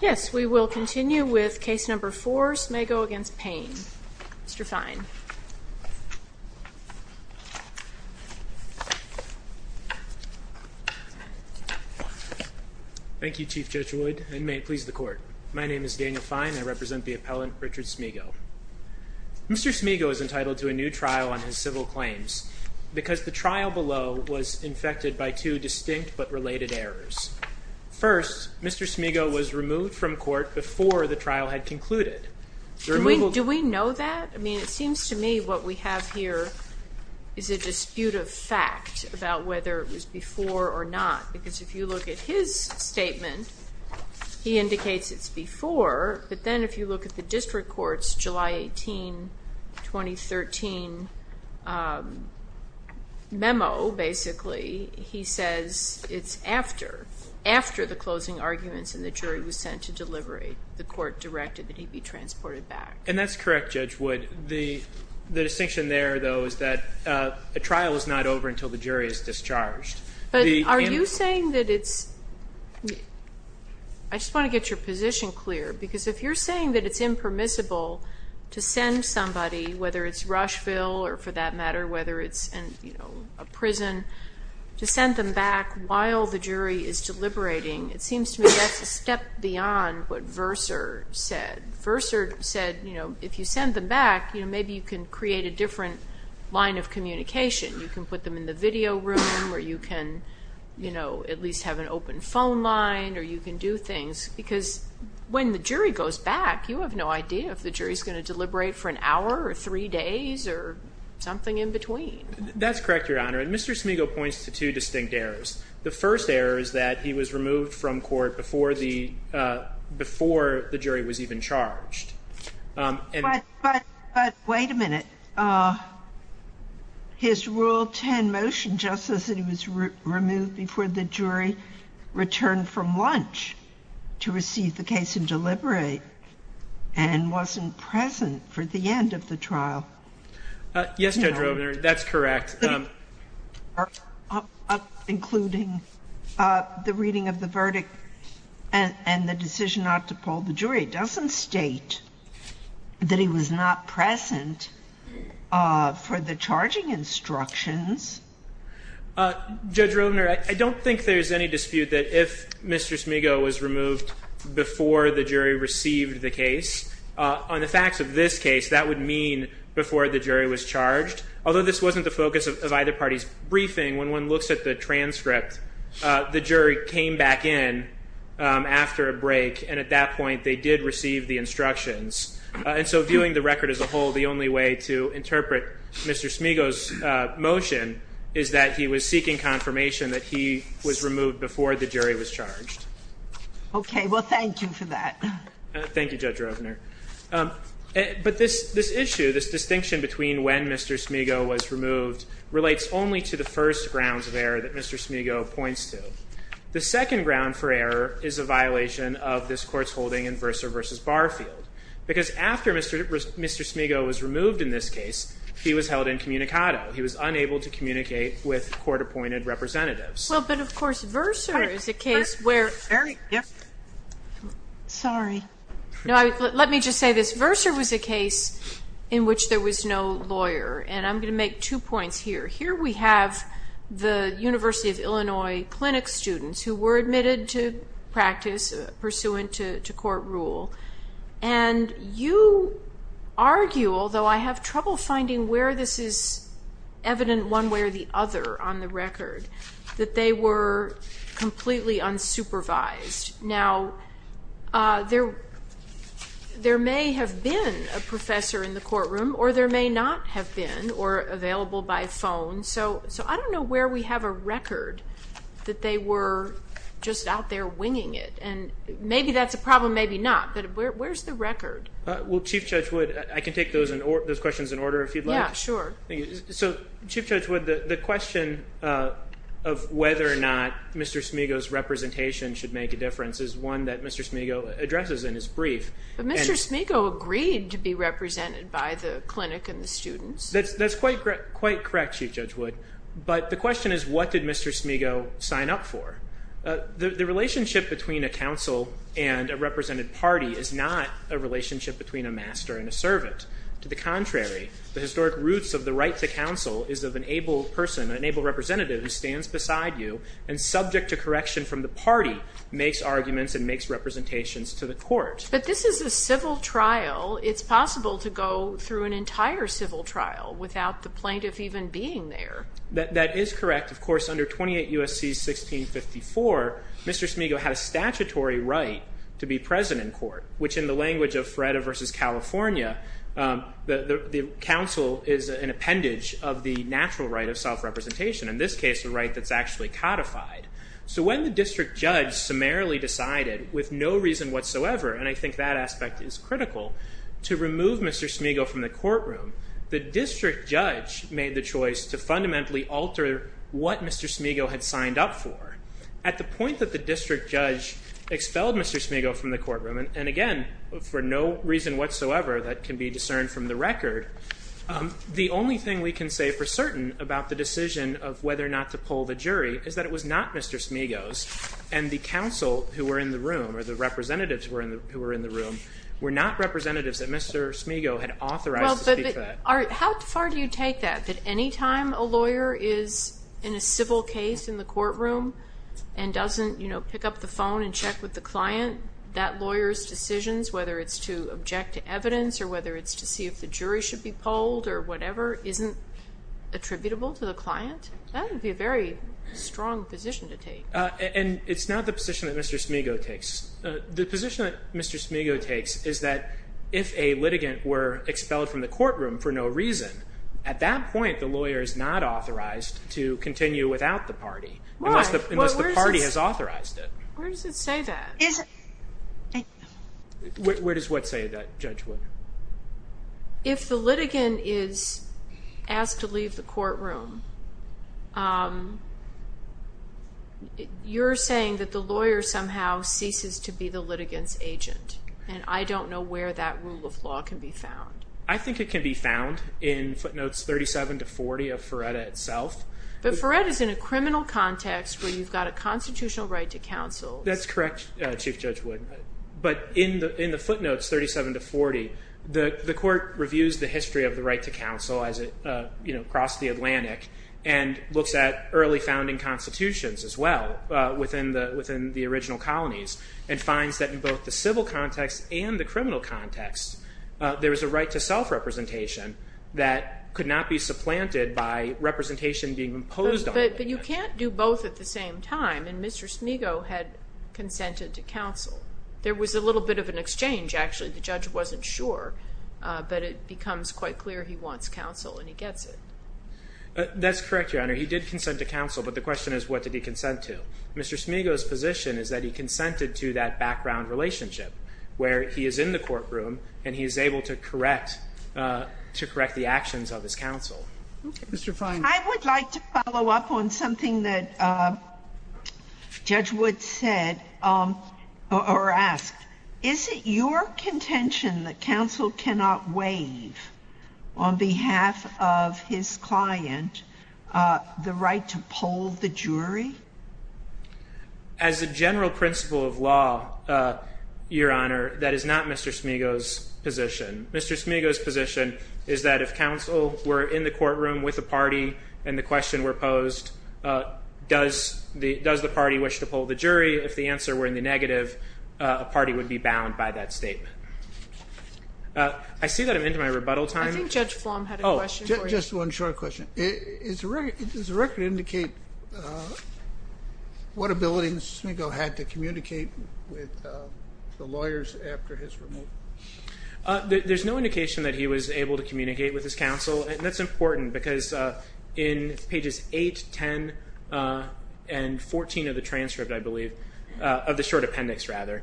Yes, we will continue with case number four, Smego v. Payne. Mr. Fine. Thank you, Chief Judge Wood, and may it please the court. My name is Daniel Fine. I represent the appellant Richard Smego. Mr. Smego is entitled to a new trial on his civil claims because the trial below was infected by two distinct but related errors. First, Mr. Smego was removed from court before the trial had concluded. Do we know that? I mean, it seems to me what we have here is a dispute of fact about whether it was before or not, because if you look at his statement, he indicates it's before, but then if you look at the district court's July 18, 2013 memo, basically, he says it's after. After the closing arguments and the jury was sent to deliberate, the court directed that he be transported back. And that's correct, Judge Wood. The distinction there, though, is that a trial is not over until the jury is discharged. But are you saying that it's... I just want to get your position clear, because if you're saying that it's impermissible to send somebody, whether it's Rushville or, for that matter, whether it's, you know, a prison, to send them back while the jury is deliberating, it seems to me that's a step beyond what Verser said. Verser said, you know, if you send them back, you know, maybe you can create a different line of communication. You can put them in the video room, or you can, you know, at least have an open phone line, or you can do things. Because when the jury goes back, you have no idea if the jury's going to deliberate for an hour or three days or something in between. That's correct, Your Honor. And Mr. Smigiel points to two distinct errors. The first error is that he was removed from court before the jury was even charged. But wait a minute. His Rule 10 motion just says that he was removed before the jury returned from lunch to receive the case and deliberate, and wasn't present for the end of the trial. Yes, Judge Rovner, that's correct. Including the reading of the verdict and the decision not to pull the jury, it doesn't state that he was not present for the charging instructions. Judge Rovner, I don't think there's any dispute that if Mr. Smigiel was removed before the jury received the case, on the facts of this case, that would mean before the jury was charged. Although this wasn't the focus of either party's briefing, when one looks at the transcript, the jury came back in after a break, and at that point, they did receive the instructions. And so viewing the record as a whole, the only way to interpret Mr. Smigiel's motion is that he was seeking confirmation that he was removed before the jury was charged. Okay, well, thank you for that. Thank you, Judge Rovner. But this issue, this distinction between when Mr. Smigiel was removed, relates only to the first grounds of error that Mr. Smigiel points to. The second ground for error is a violation of this court's holding in Verser v. Barfield. Because after Mr. Smigiel was removed in this case, he was held incommunicado. He was unable to communicate with court-appointed representatives. Well, but of course, Verser is a case where- Yes? Sorry. No, let me just say this. Verser was a case in which there was no lawyer. And I'm going to make two points here. Here we have the University of Illinois clinic students who were admitted to practice pursuant to court rule. And you argue, although I have trouble finding where this is evident one way or the other on the record, that they were completely unsupervised. Now, there may have been a professor in the courtroom, or there may not have been, or available by phone. So I don't know where we have a record that they were just out there winging it. And maybe that's a problem, maybe not, but where's the record? Well, Chief Judge Wood, I can take those questions in order if you'd like. Yeah, sure. So, Chief Judge Wood, the question of whether or not Mr. Smigo's representation should make a difference is one that Mr. Smigo addresses in his brief. But Mr. Smigo agreed to be represented by the clinic and the students. That's quite correct, Chief Judge Wood. But the question is, what did Mr. Smigo sign up for? The relationship between a counsel and To the contrary, the historic roots of the right to counsel is of an able person, an able representative who stands beside you and subject to correction from the party, makes arguments and makes representations to the court. But this is a civil trial. It's possible to go through an entire civil trial without the plaintiff even being there. That is correct. Of course, under 28 U.S.C. 1654, Mr. Smigo had a statutory right to be present in court, which in the language of Freda versus California, the counsel is an appendage of the natural right of self-representation. In this case, the right that's actually codified. So when the district judge summarily decided, with no reason whatsoever, and I think that aspect is critical, to remove Mr. Smigo from the courtroom, the district judge made the choice to fundamentally alter what Mr. Smigo had signed up for. At the point that the district judge expelled Mr. Smigo from the courtroom, and again, for no reason whatsoever that can be discerned from the record, the only thing we can say for certain about the decision of whether or not to pull the jury is that it was not Mr. Smigo's. And the counsel who were in the room, or the representatives who were in the room, were not representatives that Mr. Smigo had authorized to speak to that. How far do you take that, that any time a lawyer is in a civil case in the courtroom and doesn't pick up the phone and check with the client, that lawyer's decisions, whether it's to object to evidence or whether it's to see if the jury should be polled or whatever, isn't attributable to the client? That would be a very strong position to take. And it's not the position that Mr. Smigo takes. The position that Mr. Smigo takes is that if a litigant were expelled from the courtroom for no reason, at that point the lawyer is not authorized to continue without the party. Unless the party has authorized it. Where does it say that? Where does what say that, Judge Wood? If the litigant is asked to leave the courtroom, you're saying that the lawyer somehow ceases to be the litigant's agent. And I don't know where that rule of law can be found. I think it can be found in footnotes 37 to 40 of Ferretta itself. But Ferretta is in a criminal context where you've got a constitutional right to counsel. That's correct, Chief Judge Wood. But in the footnotes 37 to 40, the court reviews the history of the right to counsel as it crossed the Atlantic and looks at early founding constitutions as well within the original colonies and finds that in both the civil context and the criminal context, there is a right to self-representation that could not be being imposed on the litigant. But you can't do both at the same time. And Mr. Smigo had consented to counsel. There was a little bit of an exchange, actually. The judge wasn't sure, but it becomes quite clear he wants counsel and he gets it. That's correct, Your Honor. He did consent to counsel, but the question is, what did he consent to? Mr. Smigo's position is that he consented to that background relationship where he is in the courtroom and he is able to correct the actions of his counsel. Mr. Fine. I would like to follow up on something that Judge Wood said or asked. Is it your contention that counsel cannot waive on behalf of his client the right to poll the jury? As a general principle of law, Your Honor, that is not Mr. Smigo's position. Mr. Smigo's position is that if counsel were in the courtroom with a party and the question were posed, does the party wish to poll the jury? If the answer were in the negative, a party would be bound by that statement. I see that I'm into my rebuttal time. I think Judge Flom had a question for you. Just one short question. Does the record indicate what ability Mr. Smigo had to communicate with the lawyers after his removal? There's no indication that he was able to communicate with his counsel. And that's important because in pages 8, 10, and 14 of the transcript, I believe, of the short appendix, rather,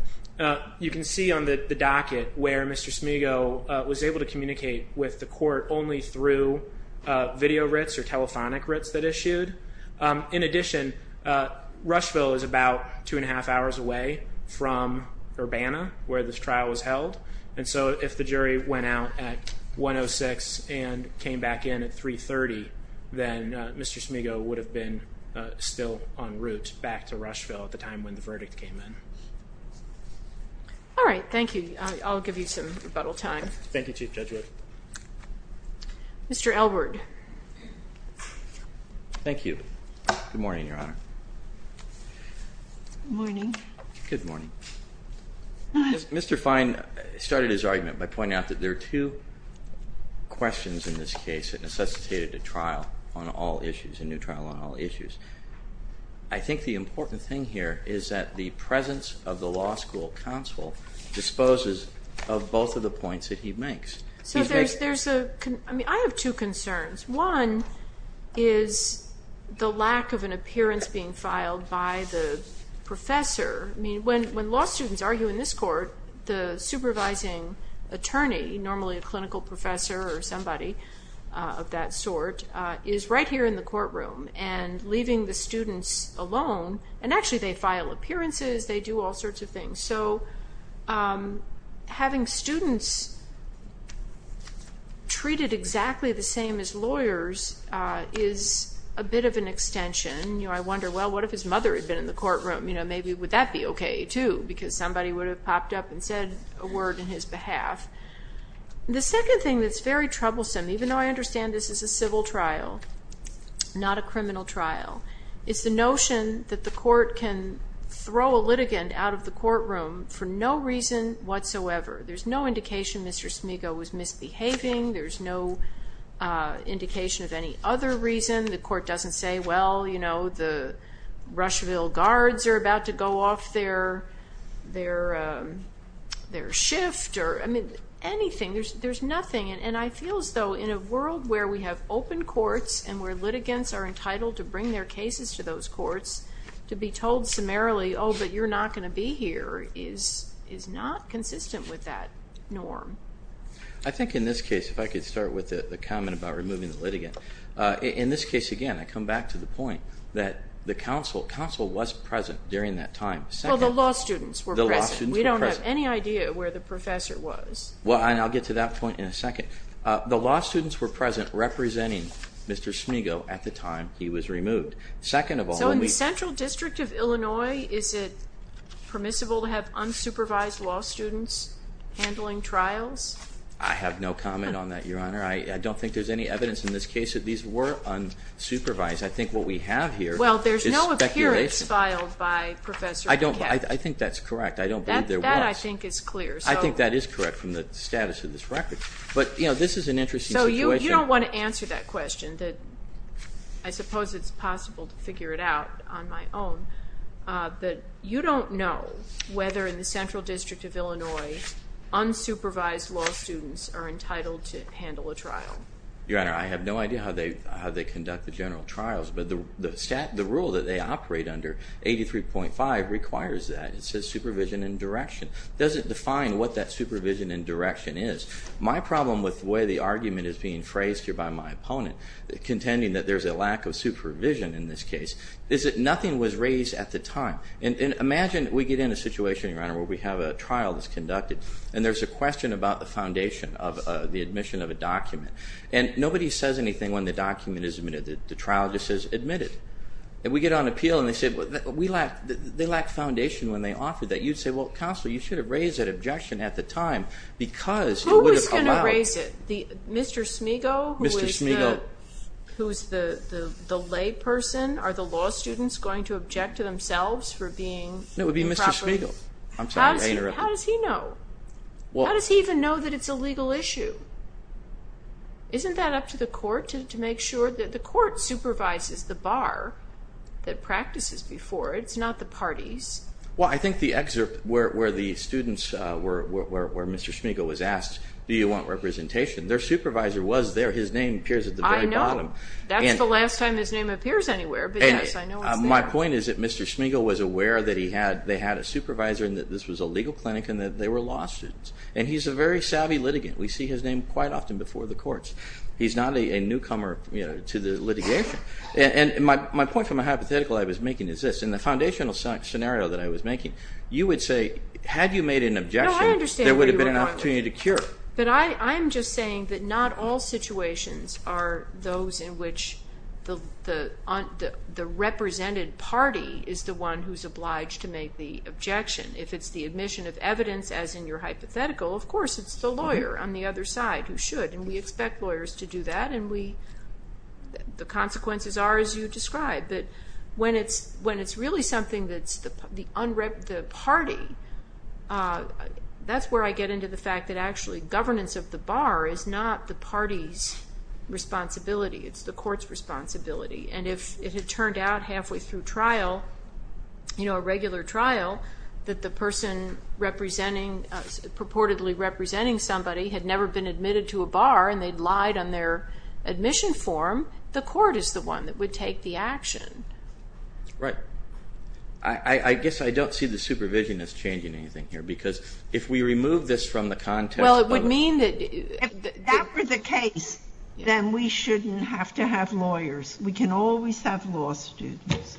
you can see on the docket where Mr. Smigo was able to communicate with the court only through video RITs or telephonic RITs that issued. In addition, Rushville is about two and a half hours away from Urbana, where this trial was held. And so if the jury went out at 1.06 and came back in at 3.30, then Mr. Smigo would have been still en route back to Rushville at the time when the verdict came in. All right, thank you. I'll give you some rebuttal time. Thank you, Chief Judge Wood. Mr. Elwood. Thank you. Good morning, Your Honor. Good morning. Good morning. Mr. Fine started his argument by pointing out that there are two questions in this case that necessitated a trial on all issues, a new trial on all issues. I think the important thing here is that the presence of the law school counsel disposes of both of the points that he makes. So there's a, I mean, I have two concerns. One is the lack of an appearance being filed by the professor. I mean, when law students argue in this court, the supervising attorney, normally a clinical professor or somebody of that sort, is right here in the courtroom and leaving the students alone. And actually, they file appearances. They do all sorts of things. So having students treated exactly the same as lawyers is a bit of an extension. I wonder, well, what if his mother had been in the courtroom? Maybe would that be OK, too? Because somebody would have popped up and said a word in his behalf. The second thing that's very troublesome, even though I understand this is a civil trial, not a criminal trial, is the notion that the court can throw a litigant out of the courtroom for no reason whatsoever. There's no indication Mr. Smigo was misbehaving. There's no indication of any other reason. The court doesn't say, well, the Rushville guards are about to go off their shift or anything. There's nothing. And I feel as though in a world where we have open courts and where litigants are entitled to bring their cases to those courts, to be told summarily, oh, but you're not going to be here is not consistent with that norm. I think in this case, if I could start with the comment about removing the litigant, in this case, again, I come back to the point that the counsel was present during that time. Well, the law students were present. We don't have any idea where the professor was. Well, and I'll get to that point in a second. The law students were present representing Mr. Smigo at the time he was removed. Second of all, we- So in the Central District of Illinois, is it permissible to have unsupervised law students handling trials? I have no comment on that, Your Honor. I don't think there's any evidence in this case that these were unsupervised. I think what we have here is speculation. Well, there's no appearance filed by Professor McCaft. I think that's correct. I don't believe there was. That, I think, is clear. I think that is correct from the status of this record. But this is an interesting situation. So you don't want to answer that question that I suppose it's possible to figure it out on my own. You don't know whether in the Central District of Illinois unsupervised law students are entitled to handle a trial. Your Honor, I have no idea how they conduct the general trials. But the rule that they operate under, 83.5, requires that. It says supervision and direction. Does it define what that supervision and direction is? My problem with the way the argument is being phrased here by my opponent, contending that there's a lack of supervision in this case, is that nothing was raised at the time. And imagine we get in a situation, Your Honor, where we have a trial that's conducted. And there's a question about the foundation of the admission of a document. And nobody says anything when the document is admitted. The trial just says, admitted. And we get on appeal and they say, well, they lack foundation when they offer that. You'd say, well, counsel, you should have raised that objection at the time. Because it would have allowed. Who was going to raise it? Mr. Smigo? Mr. Smigo. Who's the lay person? Are the law students going to object to themselves for being improper? No, it would be Mr. Smigo. How does he know? How does he even know that it's a legal issue? Isn't that up to the court to make sure that the court supervises the bar that practices before? It's not the parties. Well, I think the excerpt where the students, where Mr. Smigo was asked, do you want representation? Their supervisor was there. His name appears at the very bottom. That's the last time his name appears anywhere. My point is that Mr. Smigo was aware that they had a supervisor, and that this was a legal clinic, and that they were law students. And he's a very savvy litigant. We see his name quite often before the courts. He's not a newcomer to the litigation. And my point from a hypothetical I was making is this, in the foundational scenario that I was making, you would say, had you made an objection, there would have been an opportunity to cure. But I'm just saying that not all situations are those in which the represented party is the one who's making the objection. If it's the admission of evidence, as in your hypothetical, of course it's the lawyer on the other side who should. And we expect lawyers to do that. And the consequences are as you described. But when it's really something that's the party, that's where I get into the fact that actually governance of the bar is not the party's responsibility. It's the court's responsibility. And if it had turned out halfway through trial, a regular trial, that the person purportedly representing somebody had never been admitted to a bar, and they'd lied on their admission form, the court is the one that would take the action. Right. I guess I don't see the supervision as changing anything here, because if we remove this from the context of it. Well, it would mean that if that were the case, then we shouldn't have to have lawyers. We can always have law students.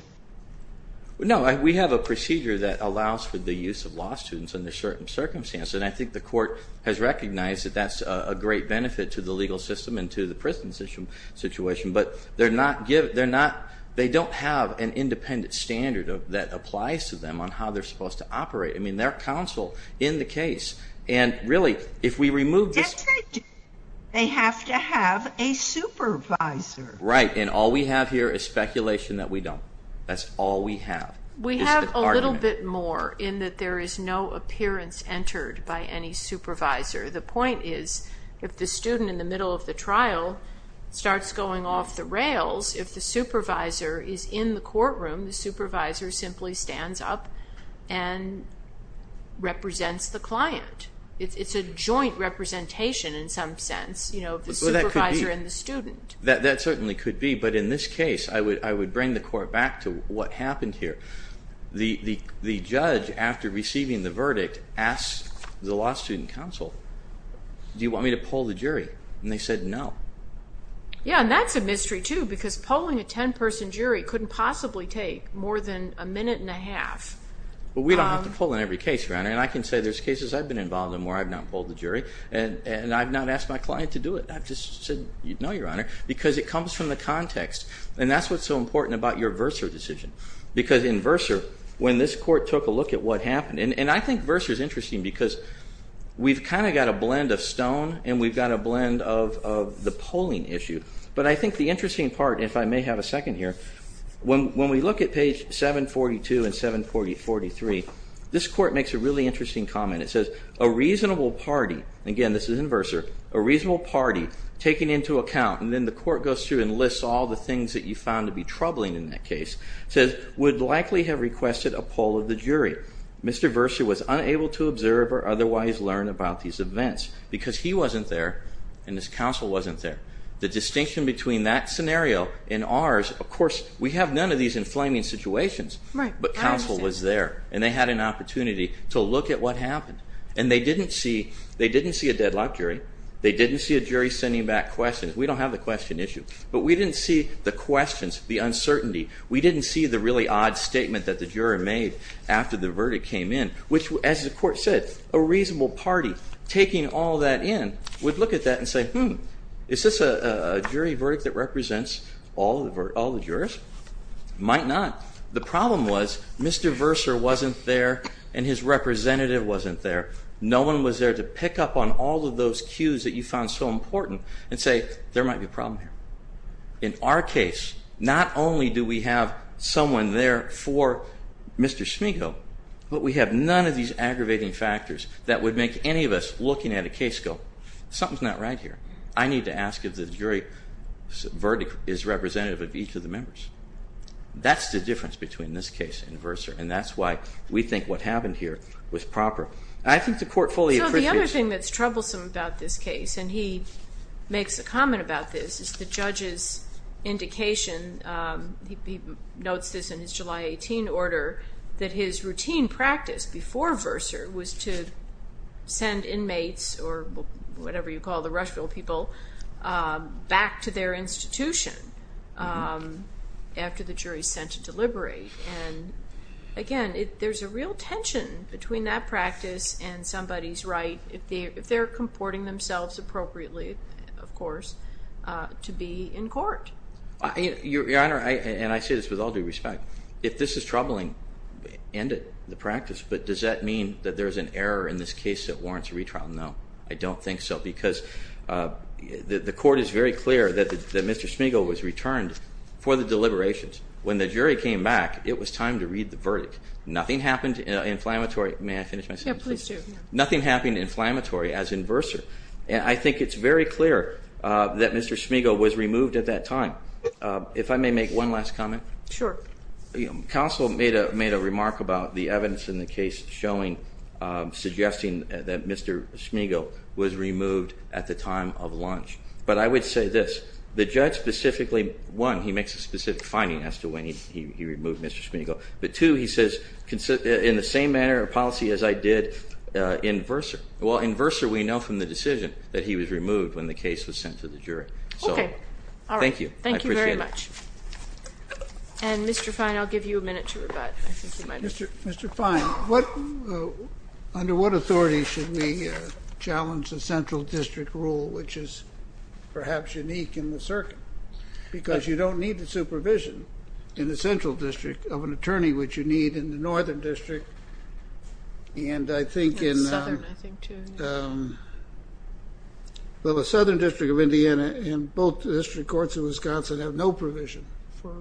No, we have a procedure that allows for the use of law students under certain circumstances. And I think the court has recognized that that's a great benefit to the legal system and to the prison situation. But they don't have an independent standard that applies to them on how they're supposed to operate. I mean, they're counsel in the case. And really, if we remove this. They have to have a supervisor. Right, and all we have here is speculation that we don't. That's all we have. We have a little bit more, in that there is no appearance entered by any supervisor. The point is, if the student in the middle of the trial starts going off the rails, if the supervisor is in the courtroom, the supervisor simply stands up and represents the client. It's a joint representation, in some sense, of the supervisor and the student. That certainly could be. But in this case, I would bring the court back to what happened here. The judge, after receiving the verdict, asked the law student counsel, do you want me to poll the jury? And they said no. Yeah, and that's a mystery, too, because polling a 10-person jury couldn't possibly take more than a minute and a half. Well, we don't have to poll in every case, Your Honor. And I can say there's cases I've been involved in where I've not polled the jury. And I've not asked my client to do it. I've just said no, Your Honor, because it comes from the context. And that's what's so important about your Verser decision. Because in Verser, when this court took a look at what happened, and I think Verser's interesting, because we've kind of got a blend of stone, and we've got a blend of the polling issue. But I think the interesting part, if I may have a second here, when we look at page 742 and 743, this court makes a really interesting comment. It says, a reasonable party, again, this is in Verser, a reasonable party, taken into account. And then the court goes through and lists all the things that you found to be troubling in that case. Says, would likely have requested a poll of the jury. Mr. Verser was unable to observe or otherwise learn about these events, because he wasn't there and his counsel wasn't there. The distinction between that scenario and ours, of course, we have none of these inflaming situations, but counsel was there. And they had an opportunity to look at what happened. And they didn't see a deadlock jury. They didn't see a jury sending back questions. We don't have the question issue. But we didn't see the questions, the uncertainty. We didn't see the really odd statement that the juror made after the verdict came in, which, as the court said, a reasonable party taking all that in would look at that and say, hmm, is this a jury verdict that represents all the jurors? Might not. The problem was Mr. Verser wasn't there and his representative wasn't there. No one was there to pick up on all of those cues that you found so important and say, there might be a problem here. In our case, not only do we have someone there for Mr. Smiko, but we have none of these aggravating factors that would make any of us looking at a case go, something's not right here. I need to ask if the jury verdict is representative of each of the members. That's the difference between this case and Verser. And that's why we think what happened here was proper. And I think the court fully appreciates it. So the other thing that's troublesome about this case, and he makes a comment about this, is the judge's indication, he notes this in his July 18 order, that his routine practice before Verser was to send inmates, or whatever you call the Rushville people, back to their institution after the jury sent to deliberate. And again, there's a real tension between that practice and somebody's right, if they're comporting themselves appropriately, of course, to be in court. Your Honor, and I say this with all due respect, if this is troubling, end it, the practice. But does that mean that there's an error in this case that warrants a retrial? No, I don't think so. Because the court is very clear that Mr. Smiko was returned for the deliberations. When the jury came back, it was time to read the verdict. Nothing happened inflammatory. May I finish my sentence? Yeah, please do. Nothing happened inflammatory as in Verser. And I think it's very clear that Mr. Smiko was removed at that time. If I may make one last comment. Sure. Counsel made a remark about the evidence in the case suggesting that Mr. Smiko was removed at the time of launch. But I would say this. The judge specifically, one, he makes a specific finding, as to when he removed Mr. Smiko. But two, he says, in the same manner of policy as I did in Verser. Well, in Verser, we know from the decision that he was removed when the case was sent to the jury. So thank you. Thank you very much. And Mr. Fine, I'll give you a minute to rebut. Mr. Fine, under what authority should we challenge the central district rule, which is perhaps unique in the circuit? Because you don't need the supervision in the central district of an attorney, which you need in the northern district. And I think in the southern district of Indiana, in both district courts in Wisconsin, have no provision for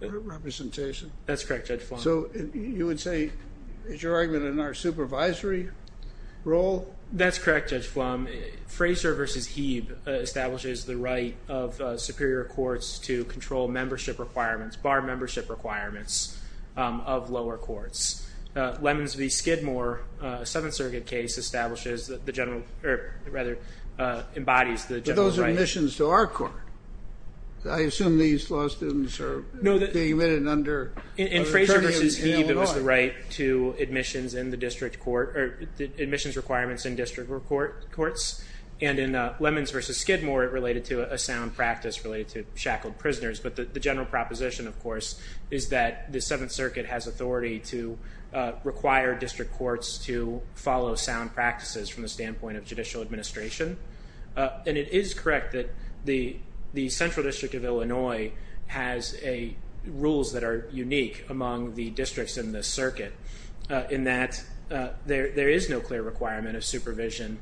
representation. That's correct, Judge Flom. So you would say, is your argument in our supervisory role? That's correct, Judge Flom. Fraser v. Hebe establishes the right of superior courts to control membership requirements, bar membership requirements, of lower courts. Lemons v. Skidmore, a Seventh Circuit case, establishes the general, or rather, embodies the general right. But those are admissions to our court. I assume these law students are being admitted under an attorney in Illinois. In Fraser v. Hebe, it was the right to admissions in the district court, or admissions requirements in district courts. And in Lemons v. Skidmore, it related to a sound practice related to shackled prisoners. But the general proposition, of course, is that the Seventh Circuit has authority to require district courts to follow sound practices from the standpoint of judicial administration. And it is correct that the Central District of Illinois has rules that are unique among the districts in this circuit, in that there is no clear requirement of supervision.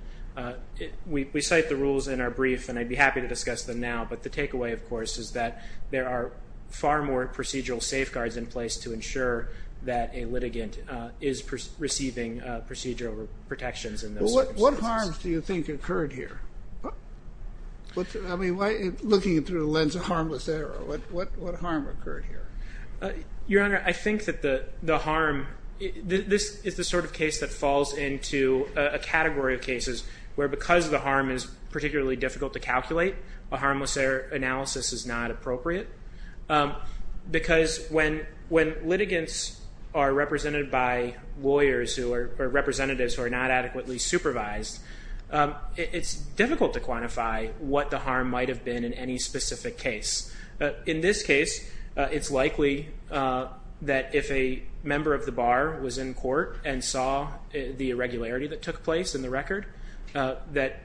We cite the rules in our brief, and I'd be happy to discuss them now. But the takeaway, of course, is that there are far more procedural safeguards in place to ensure that a litigant is receiving procedural protections in those circumstances. What harms do you think occurred here? I mean, looking through the lens of harmless error, what harm occurred here? Your Honor, I think that the harm, this is the sort of case that falls into a category of cases where, because the harm is particularly difficult to calculate, a harmless error analysis is not appropriate. Because when litigants are represented by lawyers who are representatives who are not adequately supervised, it's difficult to quantify what the harm might have been in any specific case. In this case, it's likely that if a member of the bar was in court and saw the irregularity that took place in the record, that at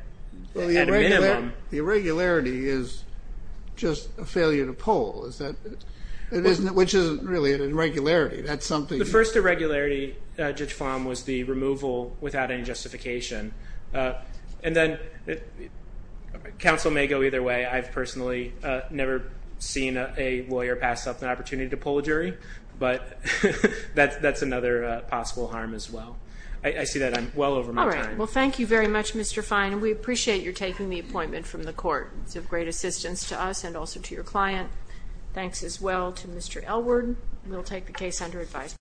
a minimum. The irregularity is just a failure to poll, which isn't really an irregularity. That's something. The first irregularity, Judge Fahm, was the removal without any justification. And then counsel may go either way. I've personally never seen a lawyer pass up an opportunity to poll a jury. But that's another possible harm as well. I see that I'm well over my time. Well, thank you very much, Mr. Fine. And we appreciate your taking the appointment from the court. It's of great assistance to us and also to your client. Thanks as well to Mr. Elward. We'll take the case under advisement.